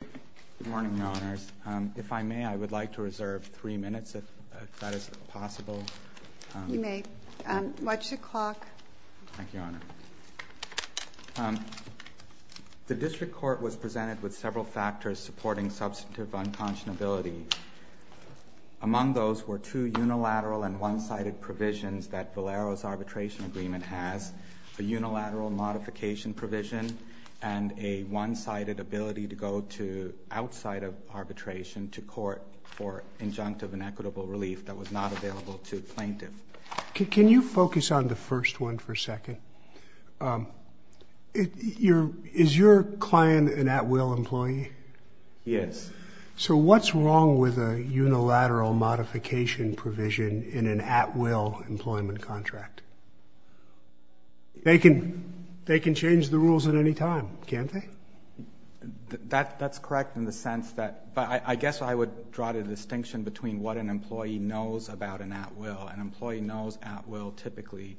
Good morning, Your Honors. If I may, I would like to reserve three minutes, if that is possible. You may. What's the clock? Thank you, Your Honor. The District Court was presented with several factors supporting substantive unconscionability. Among those were two unilateral and one-sided provisions that Valero's arbitration agreement has, a unilateral modification provision, and a one-sided ability to go outside of arbitration to court for injunctive and equitable relief that was not available to plaintiff. Can you focus on the first one for a second? Is your client an at-will employee? Yes. So what's wrong with a unilateral modification provision in an at-will employment contract? They can change the rules at any time, can't they? That's correct in the sense that I guess I would draw the distinction between what an employee knows about an at-will. An employee knows at-will typically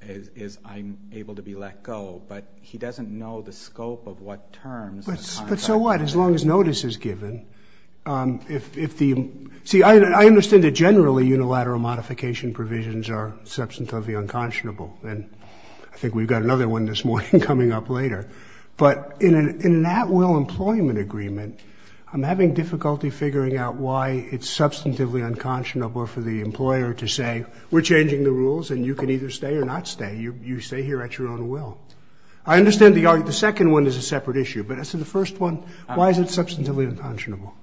is I'm able to be let go, but he doesn't know the scope of what terms. But so what? As long as notice is given. See, I understand that generally unilateral modification provisions are substantively unconscionable, and I think we've got another one this morning coming up later. But in an at-will employment agreement, I'm having difficulty figuring out why it's substantively unconscionable for the employer to say, we're changing the rules and you can either stay or not stay. You stay here at your own will. I understand the second one is a separate issue, but as to the first one, why is it substantively unconscionable?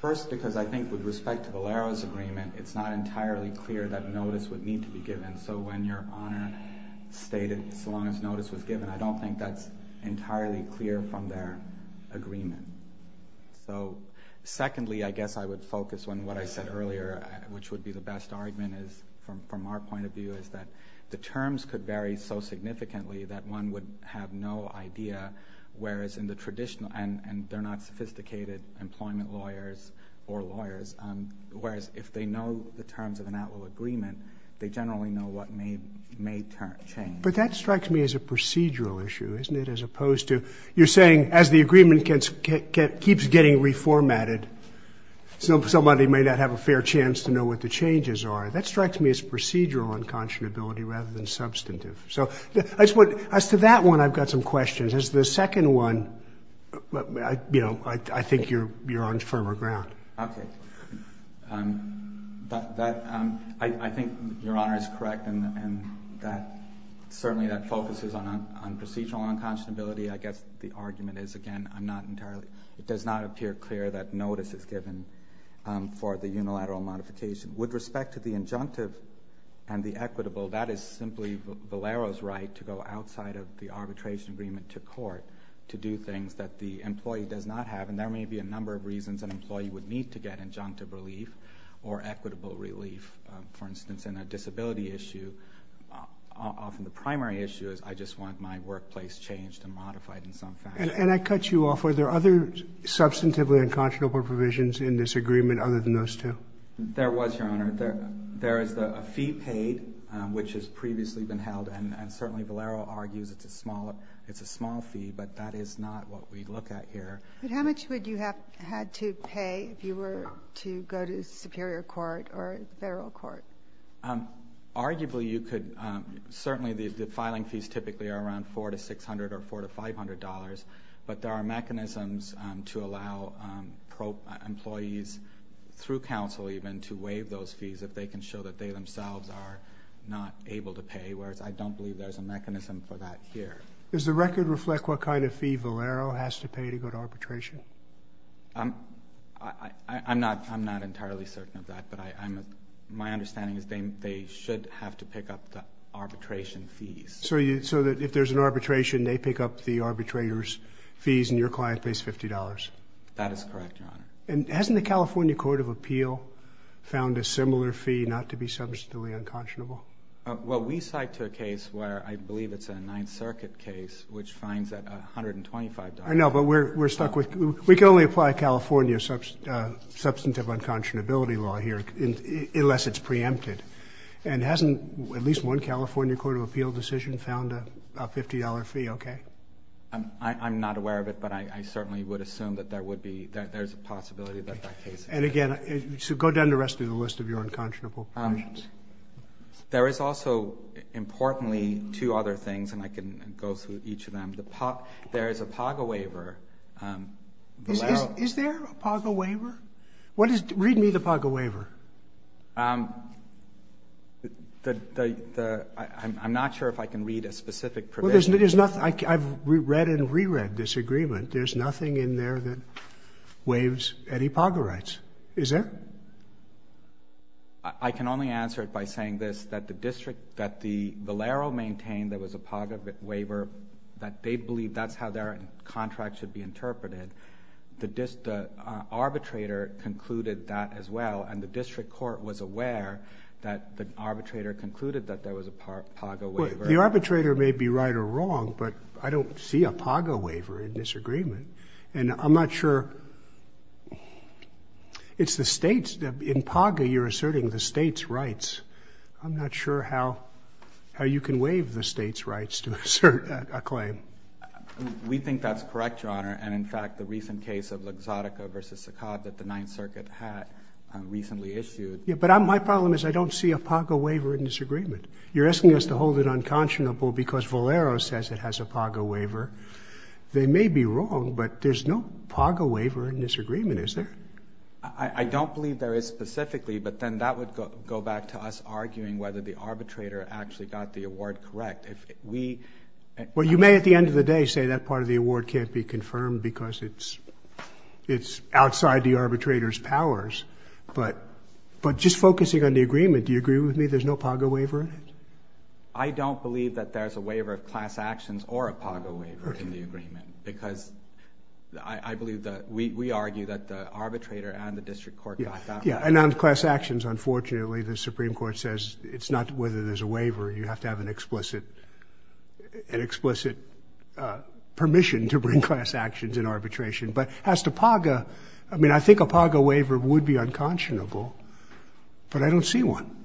First, because I think with respect to Valero's agreement, it's not entirely clear that notice would need to be given. So when your honor stated so long as notice was given, I don't think that's entirely clear from their agreement. So secondly, I guess I would focus on what I said earlier, which would be the best argument from our point of view is that the terms could vary so significantly that one would have no idea, whereas in the traditional, and they're not sophisticated employment lawyers or lawyers, whereas if they know the terms of an at-will agreement, they generally know what may change. But that strikes me as a procedural issue, isn't it, as opposed to you're saying as the agreement keeps getting reformatted, somebody may not have a fair chance to know what the changes are. That strikes me as procedural unconscionability rather than substantive. So as to that one, I've got some questions. As to the second one, I think you're on firmer ground. Okay. I think your honor is correct in that certainly that focuses on procedural unconscionability. I guess the argument is, again, it does not appear clear that notice is given for the unilateral modification. With respect to the injunctive and the equitable, that is simply Valero's right to go outside of the arbitration agreement to court to do things that the employee does not have, and there may be a number of reasons an employee would need to get injunctive relief or equitable relief. For instance, in a disability issue, often the primary issue is I just want my workplace changed and modified in some fashion. And I cut you off. Were there other substantively unconscionable provisions in this agreement other than those two? There was, your honor. There is a fee paid, which has previously been held, and certainly Valero argues it's a small fee, but that is not what we look at here. But how much would you have had to pay if you were to go to superior court or federal court? Arguably you could. Certainly the filing fees typically are around $400 to $600 or $400 to $500, but there are mechanisms to allow employees through counsel even to waive those fees if they can show that they themselves are not able to pay, whereas I don't believe there's a mechanism for that here. Does the record reflect what kind of fee Valero has to pay to go to arbitration? I'm not entirely certain of that, but my understanding is they should have to pick up the arbitration fees. So if there's an arbitration, they pick up the arbitrator's fees and your client pays $50? That is correct, your honor. And hasn't the California Court of Appeal found a similar fee not to be substantively unconscionable? Well, we cite to a case where I believe it's a Ninth Circuit case, which fines at $125. I know, but we're stuck with – we can only apply California substantive unconscionability law here unless it's preempted. And hasn't at least one California Court of Appeal decision found a $50 fee okay? I'm not aware of it, but I certainly would assume that there would be – that there's a possibility that that case – And again, go down the rest of the list of your unconscionable conditions. There is also, importantly, two other things, and I can go through each of them. There is a PAGA waiver. Is there a PAGA waiver? What is – read me the PAGA waiver. The – I'm not sure if I can read a specific provision. Well, there's nothing – I've read and reread this agreement. There's nothing in there that waives any PAGA rights, is there? But I can only answer it by saying this, that the district – that the Valero maintained there was a PAGA waiver, that they believe that's how their contract should be interpreted. The arbitrator concluded that as well, and the district court was aware that the arbitrator concluded that there was a PAGA waiver. The arbitrator may be right or wrong, but I don't see a PAGA waiver in this agreement. And I'm not sure – it's the states – in PAGA, you're asserting the states' rights. I'm not sure how you can waive the states' rights to assert a claim. We think that's correct, Your Honor. And, in fact, the recent case of Luxottica v. Saccard that the Ninth Circuit had recently issued – Yeah, but my problem is I don't see a PAGA waiver in this agreement. You're asking us to hold it unconscionable because Valero says it has a PAGA waiver. They may be wrong, but there's no PAGA waiver in this agreement, is there? I don't believe there is specifically, but then that would go back to us arguing whether the arbitrator actually got the award correct. If we – Well, you may at the end of the day say that part of the award can't be confirmed because it's outside the arbitrator's powers. But just focusing on the agreement, do you agree with me there's no PAGA waiver in it? I don't believe that there's a waiver of class actions or a PAGA waiver in the agreement because I believe that – we argue that the arbitrator and the district court got that right. Yeah, and on class actions, unfortunately, the Supreme Court says it's not whether there's a waiver. You have to have an explicit – an explicit permission to bring class actions in arbitration. But as to PAGA, I mean, I think a PAGA waiver would be unconscionable, but I don't see one.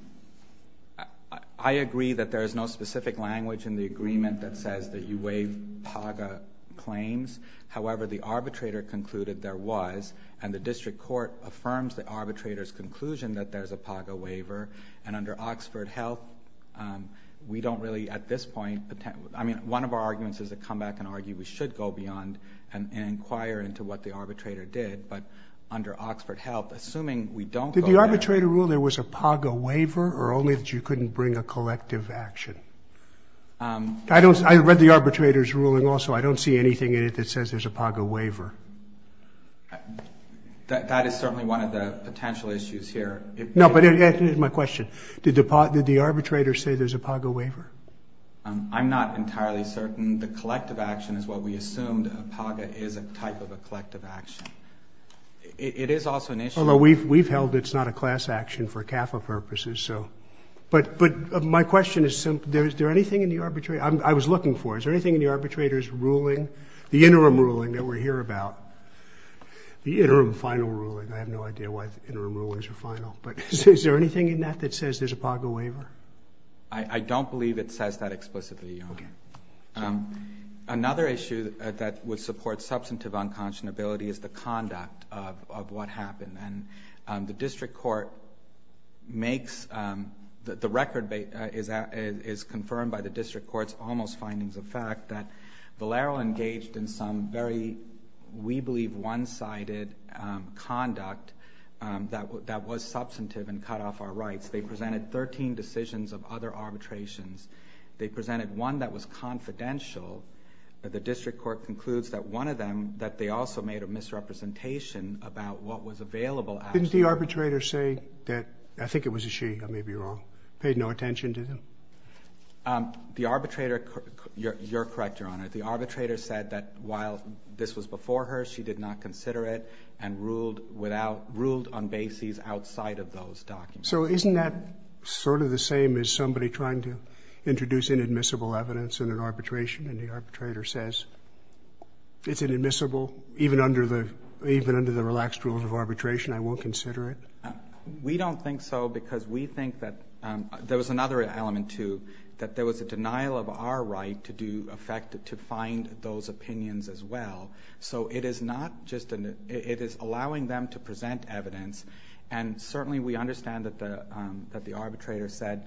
I agree that there is no specific language in the agreement that says that you waive PAGA claims. However, the arbitrator concluded there was, and the district court affirms the arbitrator's conclusion that there's a PAGA waiver. And under Oxford Health, we don't really at this point – I mean, one of our arguments is to come back and argue we should go beyond and inquire into what the arbitrator did. But under Oxford Health, assuming we don't go there – I read the arbitrator's ruling also. I don't see anything in it that says there's a PAGA waiver. That is certainly one of the potential issues here. No, but that is my question. Did the arbitrator say there's a PAGA waiver? I'm not entirely certain. The collective action is what we assumed. A PAGA is a type of a collective action. It is also an issue – although we've held it's not a class action for CAFA purposes. But my question is, is there anything in the arbitrator's – I was looking for it. Is there anything in the arbitrator's ruling, the interim ruling that we're here about – the interim final ruling. I have no idea why interim rulings are final. But is there anything in that that says there's a PAGA waiver? I don't believe it says that explicitly, Your Honor. Another issue that would support substantive unconscionability is the conduct of what happened. And the district court makes – the record is confirmed by the district court's almost findings of fact that Valero engaged in some very, we believe, one-sided conduct that was substantive and cut off our rights. They presented 13 decisions of other arbitrations. They presented one that was confidential. The district court concludes that one of them, that they also made a misrepresentation about what was available. Didn't the arbitrator say that – I think it was a she, I may be wrong – paid no attention to them? The arbitrator – you're correct, Your Honor. The arbitrator said that while this was before her, she did not consider it and ruled on bases outside of those documents. So isn't that sort of the same as somebody trying to introduce inadmissible evidence in an arbitration, and the arbitrator says, it's inadmissible even under the relaxed rules of arbitration, I won't consider it? We don't think so because we think that – there was another element to – that there was a denial of our right to do – in fact, to find those opinions as well. So it is not just – it is allowing them to present evidence, and certainly we understand that the arbitrator said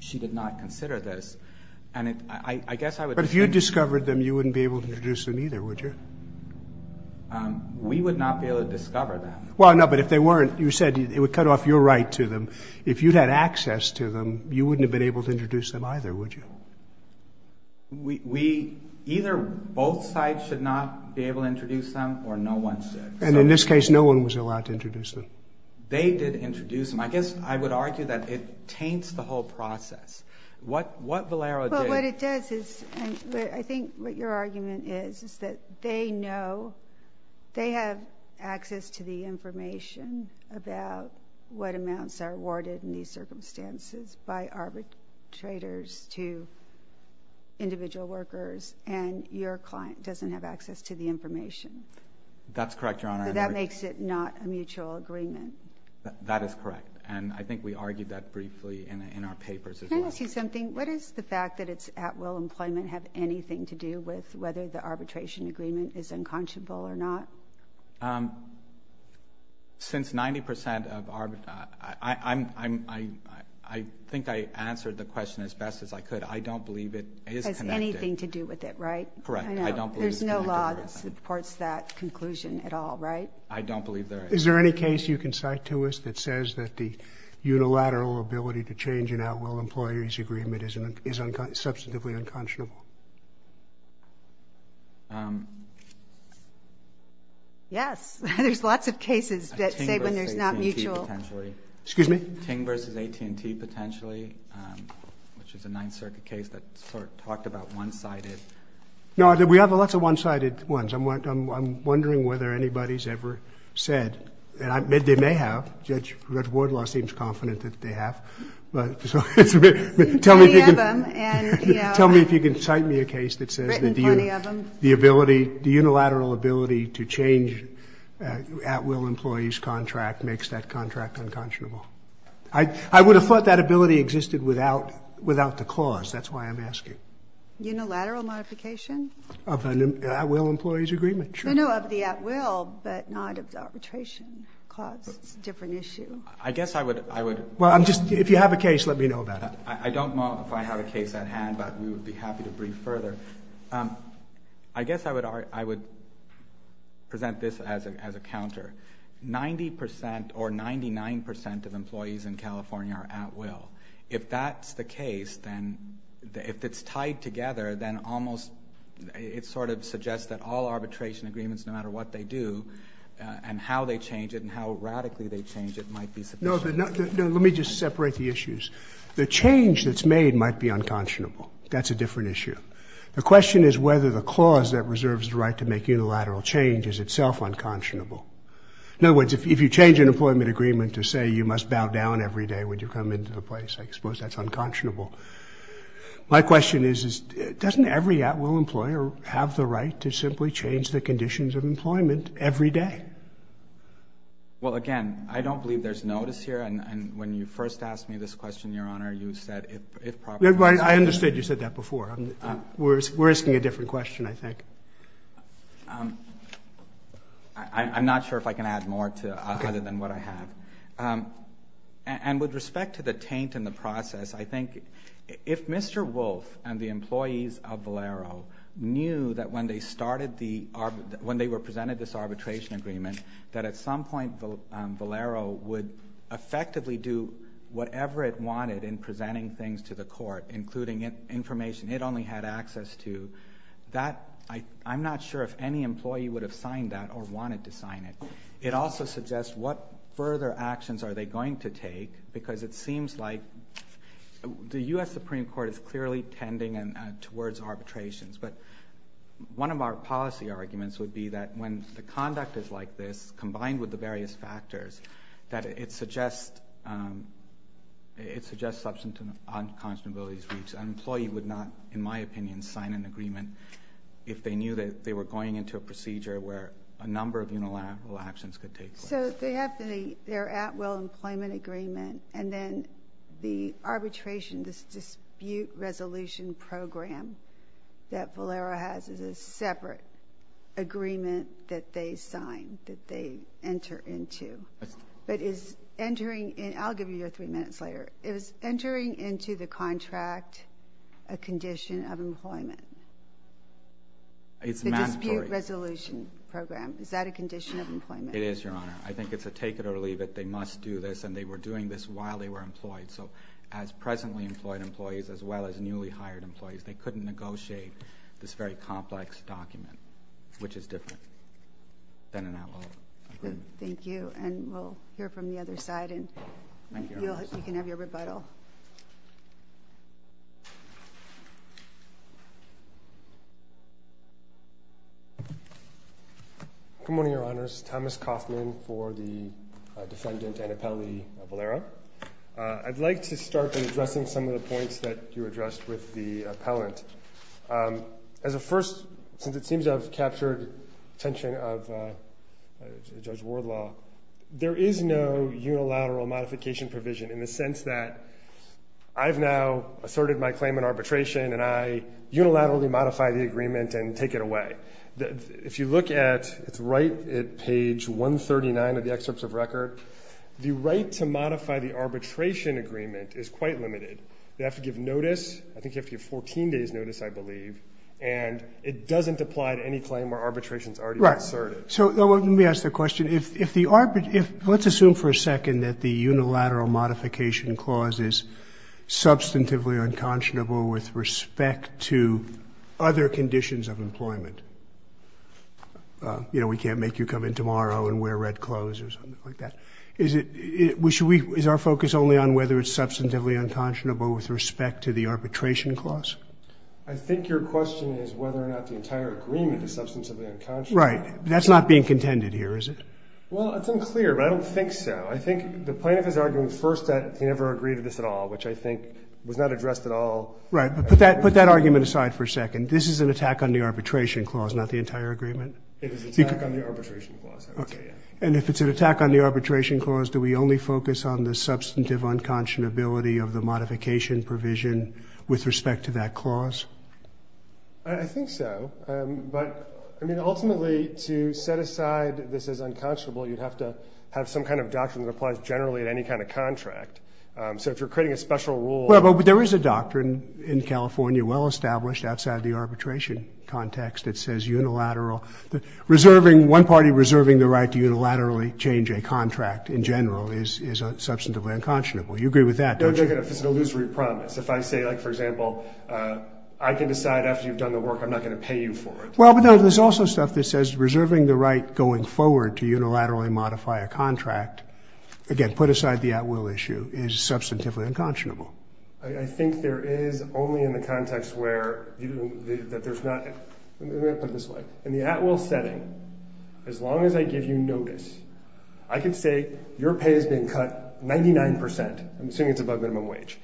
she did not consider this, and I guess I would think – But if you discovered them, you wouldn't be able to introduce them either, would you? We would not be able to discover them. Well, no, but if they weren't, you said it would cut off your right to them. If you had access to them, you wouldn't have been able to introduce them either, would you? We – either both sides should not be able to introduce them or no one should. And in this case, no one was allowed to introduce them. They did introduce them. I guess I would argue that it taints the whole process. What Valero did – Well, what it does is – I think what your argument is is that they know – they have access to the information about what amounts are awarded in these circumstances by arbitrators to individual workers, and your client doesn't have access to the information. That's correct, Your Honor. So that makes it not a mutual agreement. That is correct. And I think we argued that briefly in our papers as well. Can I ask you something? What does the fact that it's at-will employment have anything to do with whether the arbitration agreement is unconscionable or not? Since 90 percent of – I think I answered the question as best as I could. I don't believe it is connected. Correct. I don't believe it's connected. There's no law that supports that conclusion at all, right? I don't believe there is. Is there any case you can cite to us that says that the unilateral ability to change an at-will employee's agreement is substantively unconscionable? Yes. There's lots of cases that say when there's not mutual. Excuse me? Ting v. AT&T potentially, which is a Ninth Circuit case that talked about one-sided. No, we have lots of one-sided ones. I'm wondering whether anybody's ever said – and they may have. Judge Wardlaw seems confident that they have. Tell me if you can cite me a case that says that the ability – the unilateral ability to change an at-will employee's contract makes that contract unconscionable. I would have thought that ability existed without the clause. That's why I'm asking. Unilateral modification? Of an at-will employee's agreement, sure. No, no, of the at-will, but not of the arbitration clause. It's a different issue. I guess I would – Well, if you have a case, let me know about it. I don't know if I have a case at hand, but we would be happy to brief further. I guess I would present this as a counter. Ninety percent or 99 percent of employees in California are at-will. If that's the case, then – if it's tied together, then almost – it sort of suggests that all arbitration agreements, no matter what they do, and how they change it and how radically they change it, might be sufficient. No, let me just separate the issues. The change that's made might be unconscionable. That's a different issue. The question is whether the clause that reserves the right to make unilateral change is itself unconscionable. In other words, if you change an employment agreement to say you must bow down every day when you come into the place, I suppose that's unconscionable. My question is, doesn't every at-will employer have the right to simply change the conditions of employment every day? Well, again, I don't believe there's notice here. And when you first asked me this question, Your Honor, you said if proper – I understood you said that before. We're asking a different question, I think. I'm not sure if I can add more other than what I have. And with respect to the taint in the process, I think if Mr. Wolf and the employees of Valero knew that when they were presented this arbitration agreement that at some point Valero would effectively do whatever it wanted in presenting things to the court, including information it only had access to, I'm not sure if any employee would have signed that or wanted to sign it. It also suggests what further actions are they going to take, because it seems like the U.S. Supreme Court is clearly tending towards arbitrations. But one of our policy arguments would be that when the conduct is like this, combined with the various factors, that it suggests substantive unconscionability. So an employee would not, in my opinion, sign an agreement if they knew that they were going into a procedure where a number of unilateral actions could take place. So they have their at-will employment agreement, and then the arbitration, this dispute resolution program that Valero has is a separate agreement that they sign, that they enter into. But is entering – and I'll give you your three minutes later. Is entering into the contract a condition of employment? It's mandatory. The dispute resolution program, is that a condition of employment? It is, Your Honor. I think it's a take-it-or-leave-it. They must do this, and they were doing this while they were employed. So as presently employed employees as well as newly hired employees, they couldn't negotiate this very complex document, which is different than an at-will agreement. Thank you. And we'll hear from the other side. You can have your rebuttal. Good morning, Your Honors. Thomas Kaufman for the defendant, Anna Pelli Valero. I'd like to start by addressing some of the points that you addressed with the appellant. As a first, since it seems I've captured attention of Judge Wardlaw, there is no unilateral modification provision in the sense that I've now asserted my claim in arbitration, and I unilaterally modify the agreement and take it away. If you look at – it's right at page 139 of the excerpts of record. The right to modify the arbitration agreement is quite limited. You have to give notice. I think you have to give 14 days' notice, I believe. And it doesn't apply to any claim where arbitration is already asserted. Right. So let me ask the question. If the – let's assume for a second that the unilateral modification clause is substantively unconscionable with respect to other conditions of employment. You know, we can't make you come in tomorrow and wear red clothes or something like that. Is it – is our focus only on whether it's substantively unconscionable with respect to the arbitration clause? I think your question is whether or not the entire agreement is substantively unconscionable. Right. That's not being contended here, is it? Well, it's unclear, but I don't think so. I think the point of his argument is first that he never agreed to this at all, which I think was not addressed at all. Right. But put that argument aside for a second. This is an attack on the arbitration clause, not the entire agreement. It is an attack on the arbitration clause. Okay. And if it's an attack on the arbitration clause, do we only focus on the substantive unconscionability of the modification provision with respect to that clause? I think so. But, I mean, ultimately, to set aside this as unconscionable, you'd have to have some kind of doctrine that applies generally at any kind of contract. So if you're creating a special rule – Well, but there is a doctrine in California well established outside the arbitration context that says unilateral – reserving – one party reserving the right to unilaterally change a contract in general is substantively unconscionable. You agree with that, don't you? Don't take it as an illusory promise. If I say, like, for example, I can decide after you've done the work I'm not going to pay you for it. Well, but no, there's also stuff that says reserving the right going forward to unilaterally modify a contract – again, put aside the at-will issue – is substantively unconscionable. I think there is only in the context where – that there's not – let me put it this way. In the at-will setting, as long as I give you notice, I can say your pay has been cut 99 percent. I'm assuming it's above minimum wage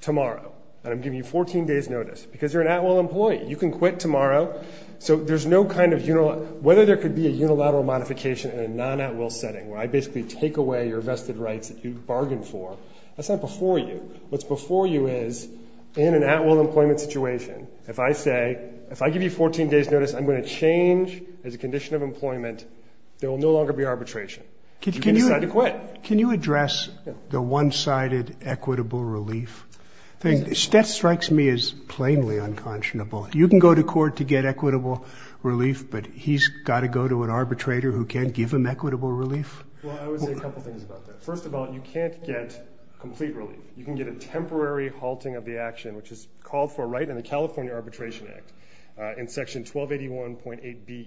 tomorrow. And I'm giving you 14 days' notice because you're an at-will employee. You can quit tomorrow. So there's no kind of – whether there could be a unilateral modification in a non-at-will setting where I basically take away your vested rights that you bargained for, that's not before you. What's before you is in an at-will employment situation, if I say – if I give you 14 days' notice, I'm going to change as a condition of employment, there will no longer be arbitration. You can decide to quit. Can you address the one-sided equitable relief thing? That strikes me as plainly unconscionable. You can go to court to get equitable relief, but he's got to go to an arbitrator who can't give him equitable relief? Well, I would say a couple things about that. First of all, you can't get complete relief. You can get a temporary halting of the action, which is called for right in the California Arbitration Act in Section 1281.8b.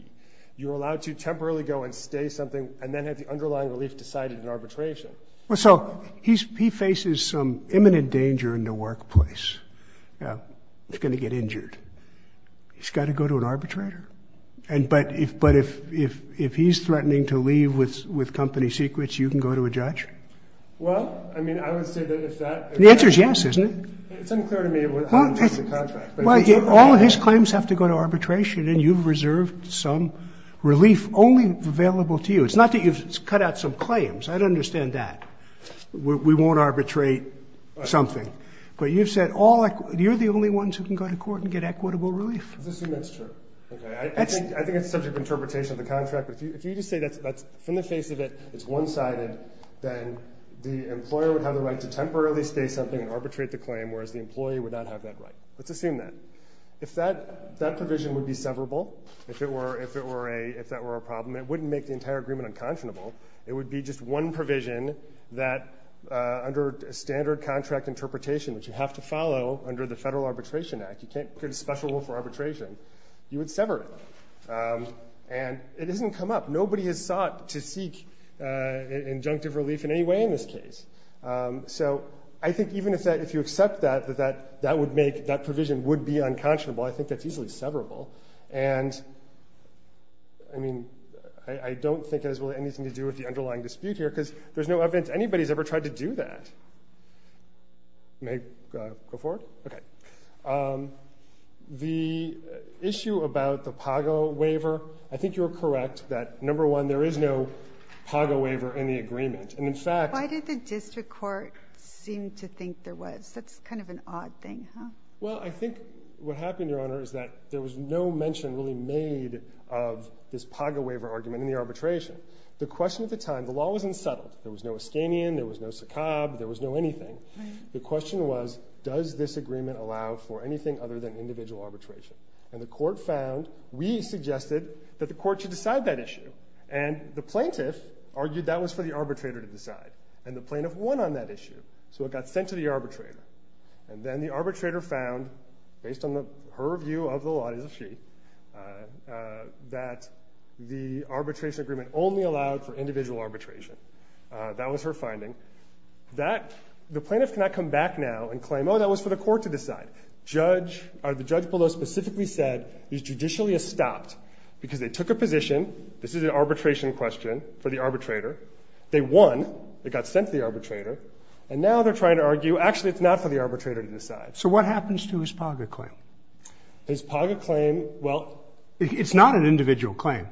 You're allowed to temporarily go and stay something and then have the underlying relief decided in arbitration. So he faces some imminent danger in the workplace. He's going to get injured. He's got to go to an arbitrator? But if he's threatening to leave with company secrets, you can go to a judge? Well, I mean, I would say that if that – The answer is yes, isn't it? It's unclear to me what kind of contract. All his claims have to go to arbitration, and you've reserved some relief only available to you. It's not that you've cut out some claims. I'd understand that. We won't arbitrate something. But you've said all – you're the only ones who can go to court and get equitable relief. Let's assume that's true. Okay. I think it's a subject of interpretation of the contract. But if you just say that's – from the face of it, it's one-sided, then the employer would have the right to temporarily stay something and arbitrate the claim, whereas the employee would not have that right. Let's assume that. If that provision would be severable, if that were a problem, it wouldn't make the entire agreement unconscionable. It would be just one provision that under standard contract interpretation, which you have to follow under the Federal Arbitration Act. You can't get a special rule for arbitration. You would sever it. And it doesn't come up. Nobody has sought to seek injunctive relief in any way in this case. So I think even if you accept that, that that would make – that provision would be unconscionable, I think that's easily severable. And, I mean, I don't think it has anything to do with the underlying dispute here because there's no evidence anybody's ever tried to do that. May I go forward? Okay. The issue about the PAGO waiver, I think you're correct that, number one, there is no PAGO waiver in the agreement. And, in fact – Why did the district court seem to think there was? That's kind of an odd thing, huh? Well, I think what happened, Your Honor, is that there was no mention really made of this PAGO waiver argument in the arbitration. The question at the time, the law was unsettled. There was no Ascanian. There was no Sakab. There was no anything. The question was, does this agreement allow for anything other than individual arbitration? And the court found, we suggested that the court should decide that issue. And the plaintiff argued that was for the arbitrator to decide. And the plaintiff won on that issue, so it got sent to the arbitrator. And then the arbitrator found, based on her view of the law, as if she, that the arbitration agreement only allowed for individual arbitration. That was her finding. The plaintiff cannot come back now and claim, oh, that was for the court to decide. The judge below specifically said, because they took a position, this is an arbitration question for the arbitrator. They won. It got sent to the arbitrator. And now they're trying to argue, actually, it's not for the arbitrator to decide. So what happens to his PAGO claim? His PAGO claim, well. It's not an individual claim.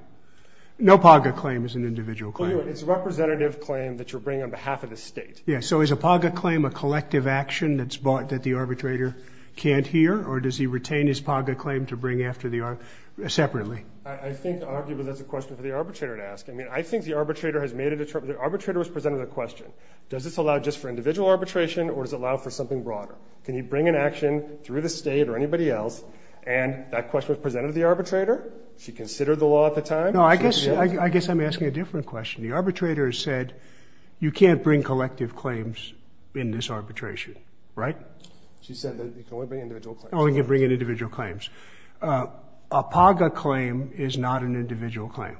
No PAGO claim is an individual claim. It's a representative claim that you're bringing on behalf of the State. Yeah, so is a PAGO claim a collective action that's brought, that the arbitrator can't hear? Or does he retain his PAGO claim to bring after the arbitrator separately? I think, arguably, that's a question for the arbitrator to ask. I mean, I think the arbitrator has made a determination. The arbitrator was presented with a question. Does this allow just for individual arbitration, or does it allow for something broader? Can you bring an action through the State or anybody else? And that question was presented to the arbitrator. She considered the law at the time. No, I guess I'm asking a different question. The arbitrator has said, you can't bring collective claims in this arbitration, right? She said that you can only bring individual claims. Oh, you can bring in individual claims. A PAGO claim is not an individual claim,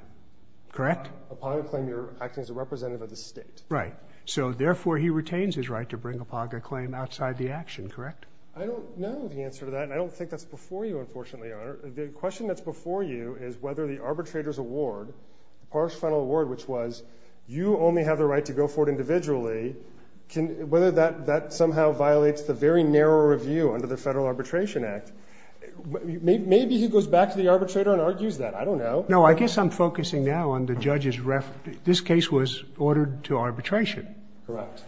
correct? A PAGO claim, you're acting as a representative of the State. Right. So, therefore, he retains his right to bring a PAGO claim outside the action, correct? I don't know the answer to that, and I don't think that's before you, unfortunately, Your Honor. The question that's before you is whether the arbitrator's award, the PARSH final award, which was you only have the right to go forward individually, whether that somehow violates the very narrow review under the Federal Arbitration Act. Maybe he goes back to the arbitrator and argues that. I don't know. No, I guess I'm focusing now on the judge's reference. This case was ordered to arbitration. Correct.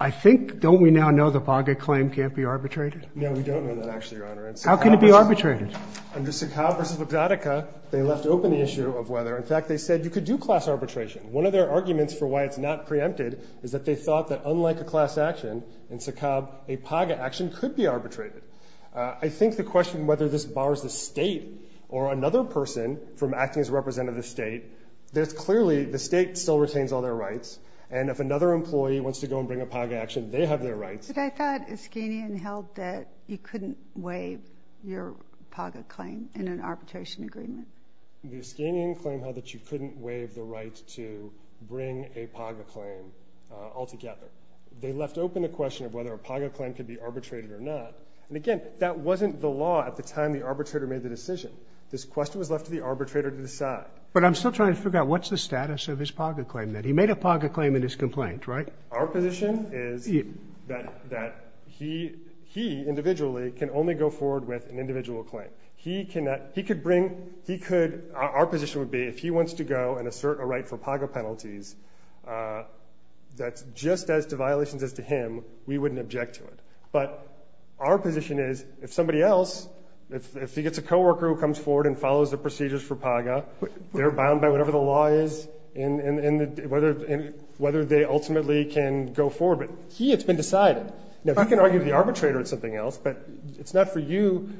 I think, don't we now know the PAGO claim can't be arbitrated? No, we don't know that, actually, Your Honor. How can it be arbitrated? Under Secau versus Bogdanica, they left open the issue of whether. In fact, they said you could do class arbitration. One of their arguments for why it's not preempted is that they thought that unlike a class action, in Secau a PAGO action could be arbitrated. I think the question whether this bars the state or another person from acting as representative of the state, that clearly the state still retains all their rights, and if another employee wants to go and bring a PAGO action, they have their rights. But I thought Iskanian held that you couldn't waive your PAGO claim in an arbitration agreement. The Iskanian claim held that you couldn't waive the right to bring a PAGO claim altogether. They left open the question of whether a PAGO claim could be arbitrated or not. And, again, that wasn't the law at the time the arbitrator made the decision. This question was left to the arbitrator to decide. But I'm still trying to figure out what's the status of his PAGO claim then. He made a PAGO claim in his complaint, right? Our position is that he individually can only go forward with an individual claim. Our position would be if he wants to go and assert a right for PAGO penalties that's just as to violations as to him, we wouldn't object to it. But our position is if somebody else, if he gets a co-worker who comes forward and follows the procedures for PAGO, they're bound by whatever the law is and whether they ultimately can go forward. But he has been decided. Now, he can argue with the arbitrator on something else, but it's not for you.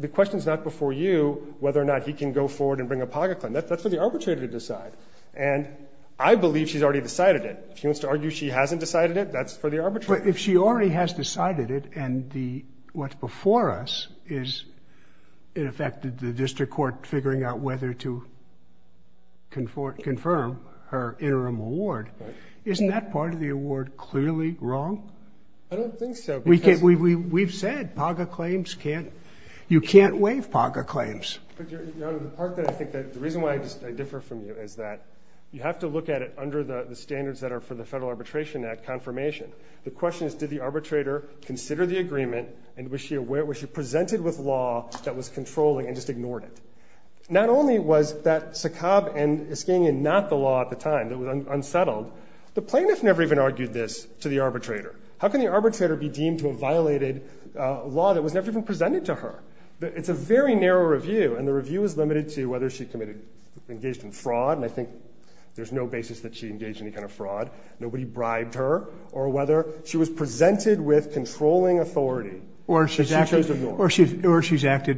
The question is not before you whether or not he can go forward and bring a PAGO claim. That's for the arbitrator to decide. And I believe she's already decided it. If she wants to argue she hasn't decided it, that's for the arbitrator. But if she already has decided it and what's before us is, in effect, the district court figuring out whether to confirm her interim award, isn't that part of the award clearly wrong? I don't think so. We've said PAGO claims can't, you can't waive PAGO claims. Your Honor, the part that I think, the reason why I differ from you is that you have to look at it under the standards that are for the Federal Arbitration Act confirmation. The question is did the arbitrator consider the agreement and was she aware, was she presented with law that was controlling and just ignored it? Not only was that SACAB and Iskanian not the law at the time, it was unsettled, the plaintiff never even argued this to the arbitrator. How can the arbitrator be deemed to have violated law that was never even presented to her? It's a very narrow review and the review is limited to whether she engaged in fraud, and I think there's no basis that she engaged in any kind of fraud, nobody bribed her, or whether she was presented with controlling authority. Or she's acted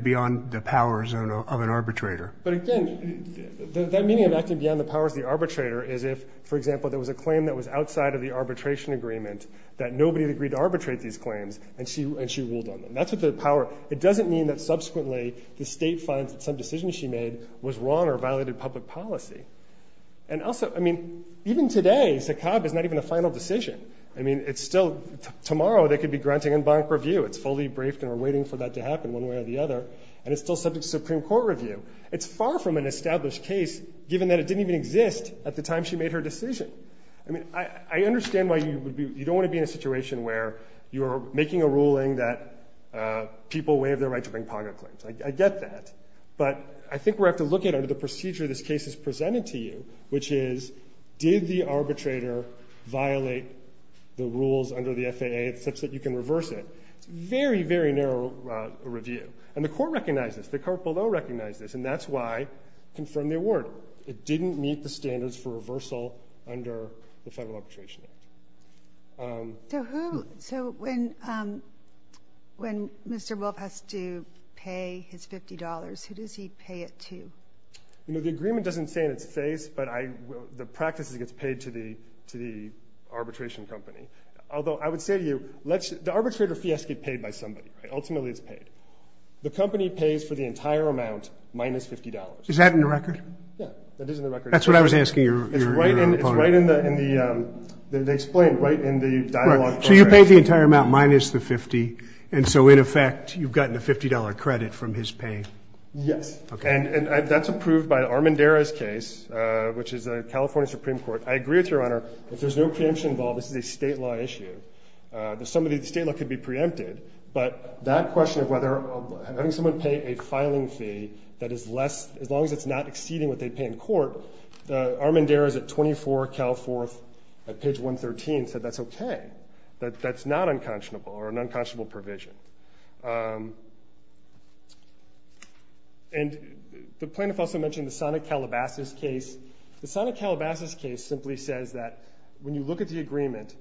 beyond the powers of an arbitrator. But again, that meaning of acting beyond the powers of the arbitrator is if, for example, there was a claim that was outside of the arbitration agreement that nobody had agreed to arbitrate these claims and she ruled on them. That's what the power, it doesn't mean that subsequently the State finds that some decisions she made was wrong or violated public policy. And also, I mean, even today, SACAB is not even a final decision. I mean, it's still, tomorrow they could be granting en banc review, it's fully briefed and we're waiting for that to happen one way or the other, and it's still subject to Supreme Court review. It's far from an established case, given that it didn't even exist at the time she made her decision. I mean, I understand why you don't want to be in a situation where you're making a ruling that people waive their right to bring POGRA claims. I get that. But I think we have to look at it under the procedure this case is presented to you, which is did the arbitrator violate the rules under the FAA such that you can reverse it? It's a very, very narrow review. And the court recognized this. The court below recognized this, and that's why it confirmed the award. It didn't meet the standards for reversal under the Federal Arbitration Act. So when Mr. Wolf has to pay his $50, who does he pay it to? You know, the agreement doesn't say in its face, but the practice is it gets paid to the arbitration company. Although I would say to you, the arbitrator fee has to get paid by somebody. Ultimately, it's paid. The company pays for the entire amount minus $50. Is that in the record? Yeah, that is in the record. That's what I was asking your opponent. It's right in the ‑‑ they explained right in the dialogue. So you paid the entire amount minus the $50, and so, in effect, you've gotten a $50 credit from his pay? Yes. Okay. And that's approved by Armandera's case, which is a California Supreme Court. I agree with you, Your Honor. If there's no preemption involved, this is a state law issue. The sum of the state law could be preempted. But that question of whether having someone pay a filing fee that is less, as long as it's not exceeding what they pay in court, Armandera's at 24 Cal 4th at page 113 said that's okay, that that's not unconscionable or an unconscionable provision. And the plaintiff also mentioned the Sonic Calabasas case. The Sonic Calabasas case simply says that when you look at the agreement,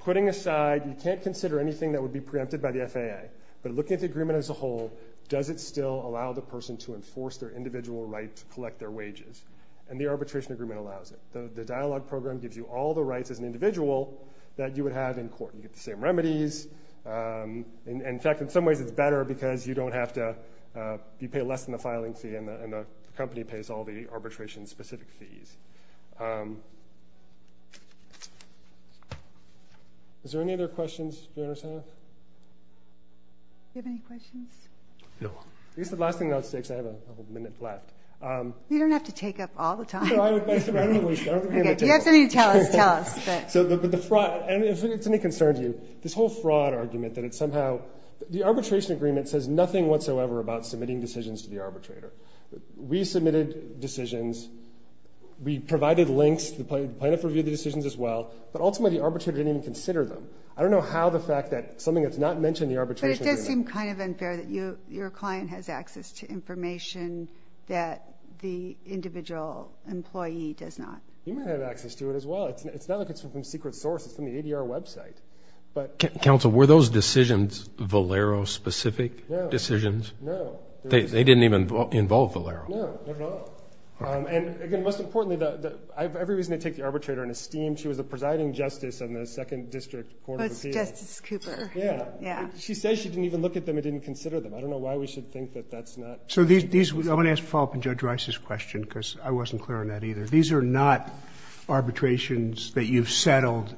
putting aside, you can't consider anything that would be preempted by the FAA, but looking at the agreement as a whole, does it still allow the person to enforce their individual right to collect their wages? And the arbitration agreement allows it. The dialogue program gives you all the rights as an individual that you would have in court. You get the same remedies. In fact, in some ways it's better because you don't have to ‑‑ you pay less than the filing fee and the company pays all the arbitration-specific fees. Is there any other questions? Do you understand? Do you have any questions? No. I guess the last thing that I would say, because I have a minute left. You don't have to take up all the time. No, I don't think we have to take up all the time. If you have something to tell us, tell us. So the fraud, if it's any concern to you, this whole fraud argument that it's somehow ‑‑ The arbitration agreement says nothing whatsoever about submitting decisions to the arbitrator. We submitted decisions. We provided links. The plaintiff reviewed the decisions as well. But ultimately the arbitrator didn't even consider them. I don't know how the fact that something that's not mentioned in the arbitration agreement ‑‑ But it does seem kind of unfair that your client has access to information that the individual employee does not. You might have access to it as well. It's not like it's from a secret source. It's from the ADR website. Counsel, were those decisions Valero-specific decisions? No. They didn't even involve Valero. No, not at all. And, again, most importantly, I have every reason to take the arbitrator in esteem. She was the presiding justice on the Second District Court of Appeals. It was Justice Cooper. Yeah. She says she didn't even look at them and didn't consider them. I don't know why we should think that that's not ‑‑ I want to follow up on Judge Rice's question because I wasn't clear on that either. These are not arbitrations that you've settled,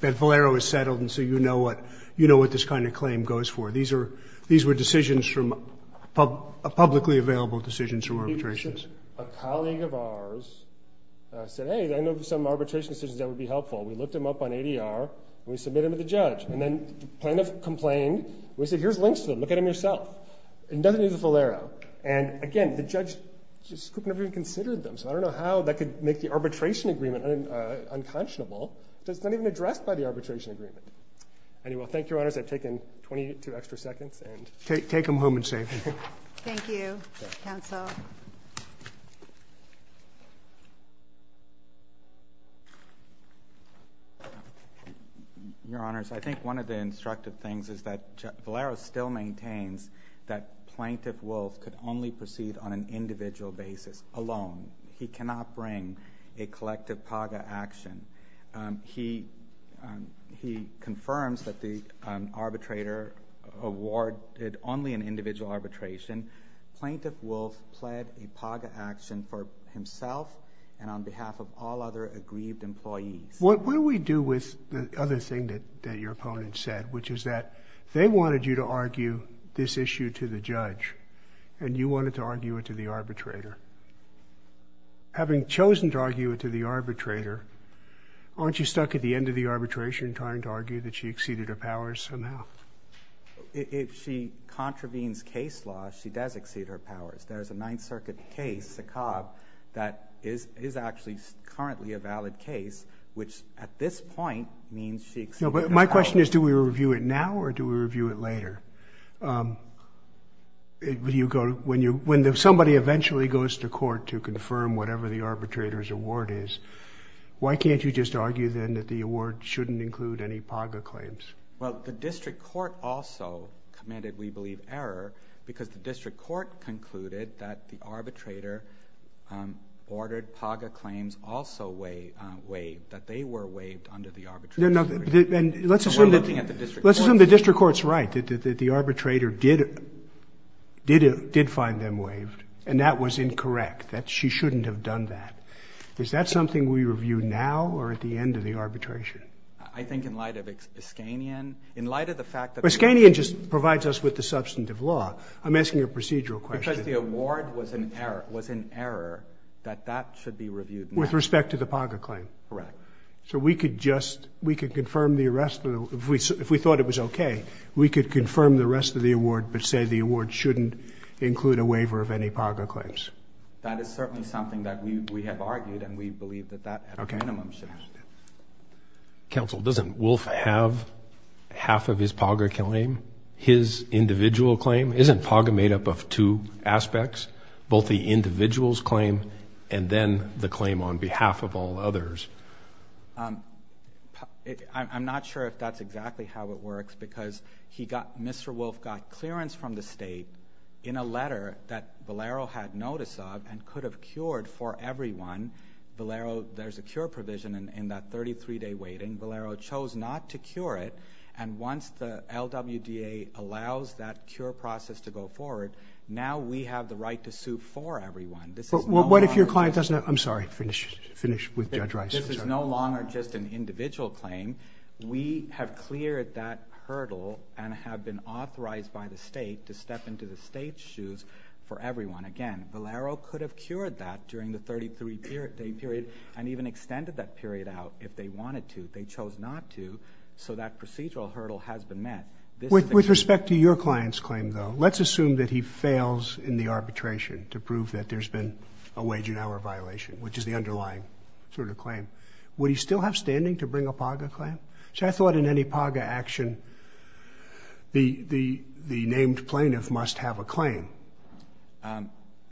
that Valero has settled, and so you know what this kind of claim goes for. These were decisions from ‑‑ publicly available decisions from arbitrations. A colleague of ours said, hey, I know some arbitration decisions that would be helpful. We looked them up on ADR, and we submitted them to the judge. And then the plaintiff complained. We said, here's links to them. Look at them yourself. And nothing to do with Valero. And, again, the judge just couldn't have even considered them. So I don't know how that could make the arbitration agreement unconscionable. It's not even addressed by the arbitration agreement. Anyway, thank you, Your Honors. I've taken 22 extra seconds. Take them home and save them. Thank you, counsel. Your Honors, I think one of the instructive things is that Valero still maintains that Plaintiff Wolf could only proceed on an individual basis, alone. He cannot bring a collective PAGA action. He confirms that the arbitrator awarded only an individual arbitration. Plaintiff Wolf pled a PAGA action for himself and on behalf of all other aggrieved employees. What do we do with the other thing that your opponent said, which is that they wanted you to argue this issue to the judge, and you wanted to argue it to the arbitrator? Having chosen to argue it to the arbitrator, aren't you stuck at the end of the arbitration trying to argue that she exceeded her powers somehow? If she contravenes case law, she does exceed her powers. There's a Ninth Circuit case, Sakab, that is actually currently a valid case, which at this point means she exceeded her powers. My question is do we review it now or do we review it later? When somebody eventually goes to court to confirm whatever the arbitrator's award is, why can't you just argue then that the award shouldn't include any PAGA claims? Well, the district court also committed, we believe, error because the district court concluded that the arbitrator ordered PAGA claims also waived, that they were waived under the arbitration. So we're looking at the district court. Let's assume the district court's right, that the arbitrator did find them waived, and that was incorrect, that she shouldn't have done that. Is that something we review now or at the end of the arbitration? I think in light of Iskanian, in light of the fact that they were waived. Iskanian just provides us with the substantive law. I'm asking a procedural question. Because the award was in error that that should be reviewed now. With respect to the PAGA claim. Correct. So we could just, we could confirm the arrest, if we thought it was okay, we could confirm the rest of the award but say the award shouldn't include a waiver of any PAGA claims. That is certainly something that we have argued, and we believe that that, at a minimum, should happen. Counsel, doesn't Wolf have half of his PAGA claim, his individual claim? Isn't PAGA made up of two aspects, both the individual's claim and then the claim on behalf of all others? I'm not sure if that's exactly how it works because he got, Mr. Wolf got clearance from the state in a letter that Valero had notice of and could have cured for everyone. Valero, there's a cure provision in that 33-day waiting. Valero chose not to cure it, and once the LWDA allows that cure process to go forward, now we have the right to sue for everyone. What if your client doesn't have, I'm sorry, finish with Judge Rice. This is no longer just an individual claim. We have cleared that hurdle and have been authorized by the state to step into the state's shoes for everyone. Again, Valero could have cured that during the 33-day period and even extended that period out if they wanted to. They chose not to, so that procedural hurdle has been met. With respect to your client's claim, though, let's assume that he fails in the arbitration to prove that there's been a wage and hour violation, which is the underlying sort of claim. Would he still have standing to bring a PAGA claim? I thought in any PAGA action the named plaintiff must have a claim.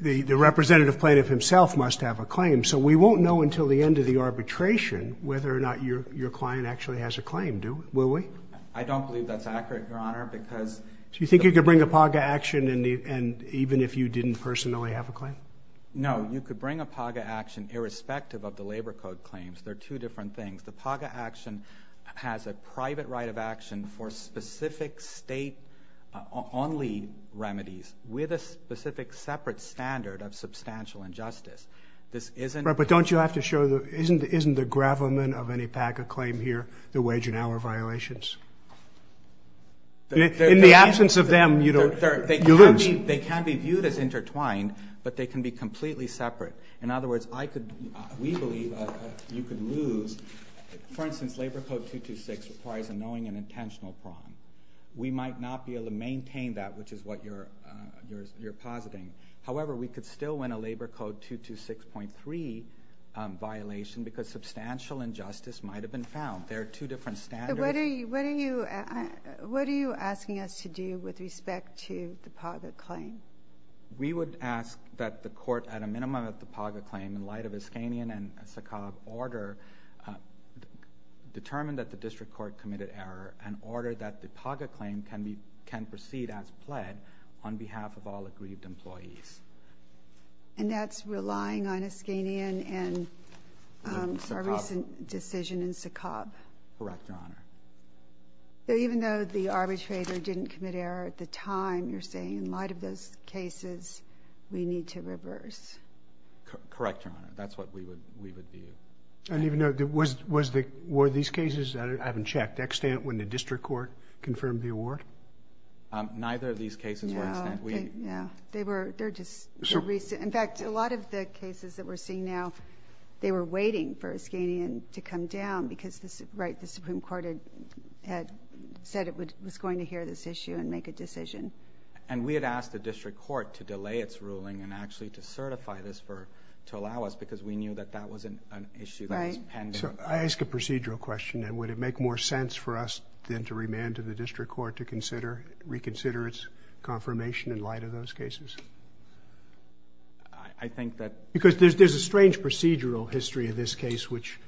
The representative plaintiff himself must have a claim, so we won't know until the end of the arbitration whether or not your client actually has a claim, will we? I don't believe that's accurate, Your Honor. Do you think you could bring a PAGA action even if you didn't personally have a claim? No, you could bring a PAGA action irrespective of the Labor Code claims. They're two different things. The PAGA action has a private right of action for specific state-only remedies with a specific separate standard of substantial injustice. But don't you have to show that isn't the gravamen of any PAGA claim here the wage and hour violations? In the absence of them, you lose. They can be viewed as intertwined, but they can be completely separate. In other words, we believe you could lose. For instance, Labor Code 226 requires a knowing and intentional crime. We might not be able to maintain that, which is what you're positing. However, we could still win a Labor Code 226.3 violation because substantial injustice might have been found. They're two different standards. What are you asking us to do with respect to the PAGA claim? We would ask that the court, at a minimum of the PAGA claim in light of Iskanian and SACOB order, determine that the district court committed error and order that the PAGA claim can proceed as pled on behalf of all aggrieved employees. That's relying on Iskanian and our recent decision in SACOB? Correct, Your Honor. Even though the arbitrator didn't commit error at the time, you're saying in light of those cases, we need to reverse? Correct, Your Honor. That's what we would do. Were these cases, I haven't checked, extant when the district court confirmed the award? Neither of these cases were extant. They're just recent. In fact, a lot of the cases that we're seeing now, they were waiting for Iskanian to come down because the Supreme Court had said it was going to hear this issue and make a decision. And we had asked the district court to delay its ruling and actually to certify this to allow us because we knew that that was an issue that was pending. I ask a procedural question. Would it make more sense for us then to remand to the district court to reconsider its confirmation in light of those cases? I think that... Because there's a strange procedural history in this case which...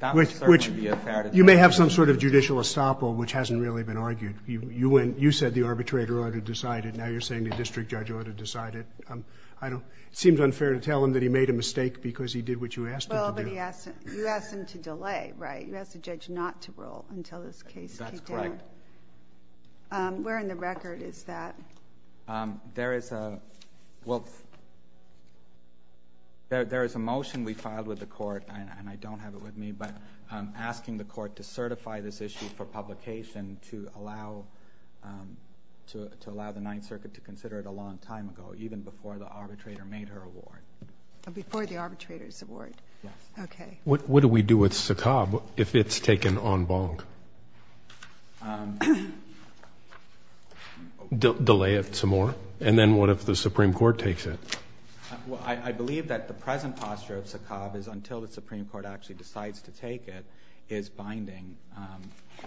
That would certainly be unfair to the district court. You may have some sort of judicial estoppel which hasn't really been argued. You said the arbitrator ought to decide it. Now you're saying the district judge ought to decide it. It seems unfair to tell him that he made a mistake because he did what you asked him to do. Well, but you asked him to delay, right? You asked the judge not to rule until this case... That's correct. Where in the record is that? There is a... There is a motion we filed with the court, and I don't have it with me, but asking the court to certify this issue for publication to allow the Ninth Circuit to consider it a long time ago, even before the arbitrator made her award. Before the arbitrator's award? Yes. Okay. What do we do with Saqqab if it's taken en banc? Delay it some more? And then what if the Supreme Court takes it? Well, I believe that the present posture of Saqqab is until the Supreme Court actually decides to take it is binding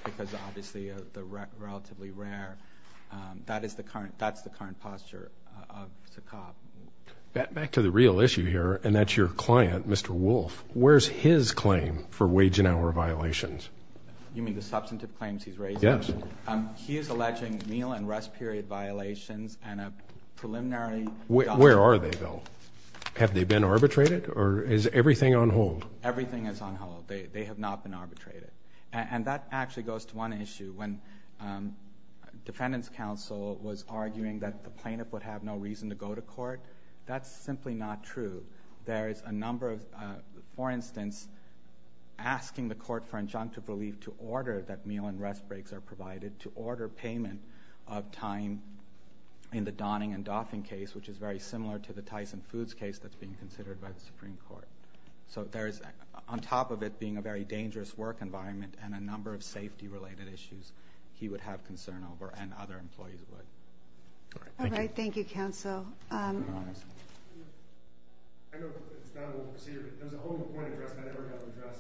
because obviously of the relatively rare... That's the current posture of Saqqab. Back to the real issue here, and that's your client, Mr. Wolf. Where's his claim for wage and hour violations? You mean the substantive claims he's raising? Yes. He is alleging meal and rest period violations and a preliminary... Where are they, though? Have they been arbitrated, or is everything on hold? Everything is on hold. They have not been arbitrated. And that actually goes to one issue. When Defendant's Counsel was arguing that the plaintiff would have no reason to go to court, that's simply not true. There is a number of, for instance, asking the court for injunctive relief to order that meal and rest breaks are provided, to order payment of time in the Donning and Doffing case, which is very similar to the Tyson Foods case that's being considered by the Supreme Court. So there is, on top of it being a very dangerous work environment and a number of safety-related issues he would have concern over and other employees would. All right. Thank you. All right. Thank you, Counsel. Thank you, Your Honor. I know it's not a normal procedure, but there's a whole point of arrest that I never got to address.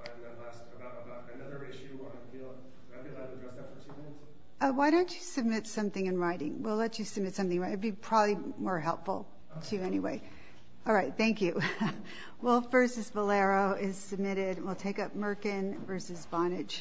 I've got to ask about another issue on appeal. Would I be allowed to address that for two minutes? Why don't you submit something in writing? We'll let you submit something in writing. It would be probably more helpful to you anyway. All right. Thank you. Wolf v. Valero is submitted. We'll take up Merkin v. Vonage.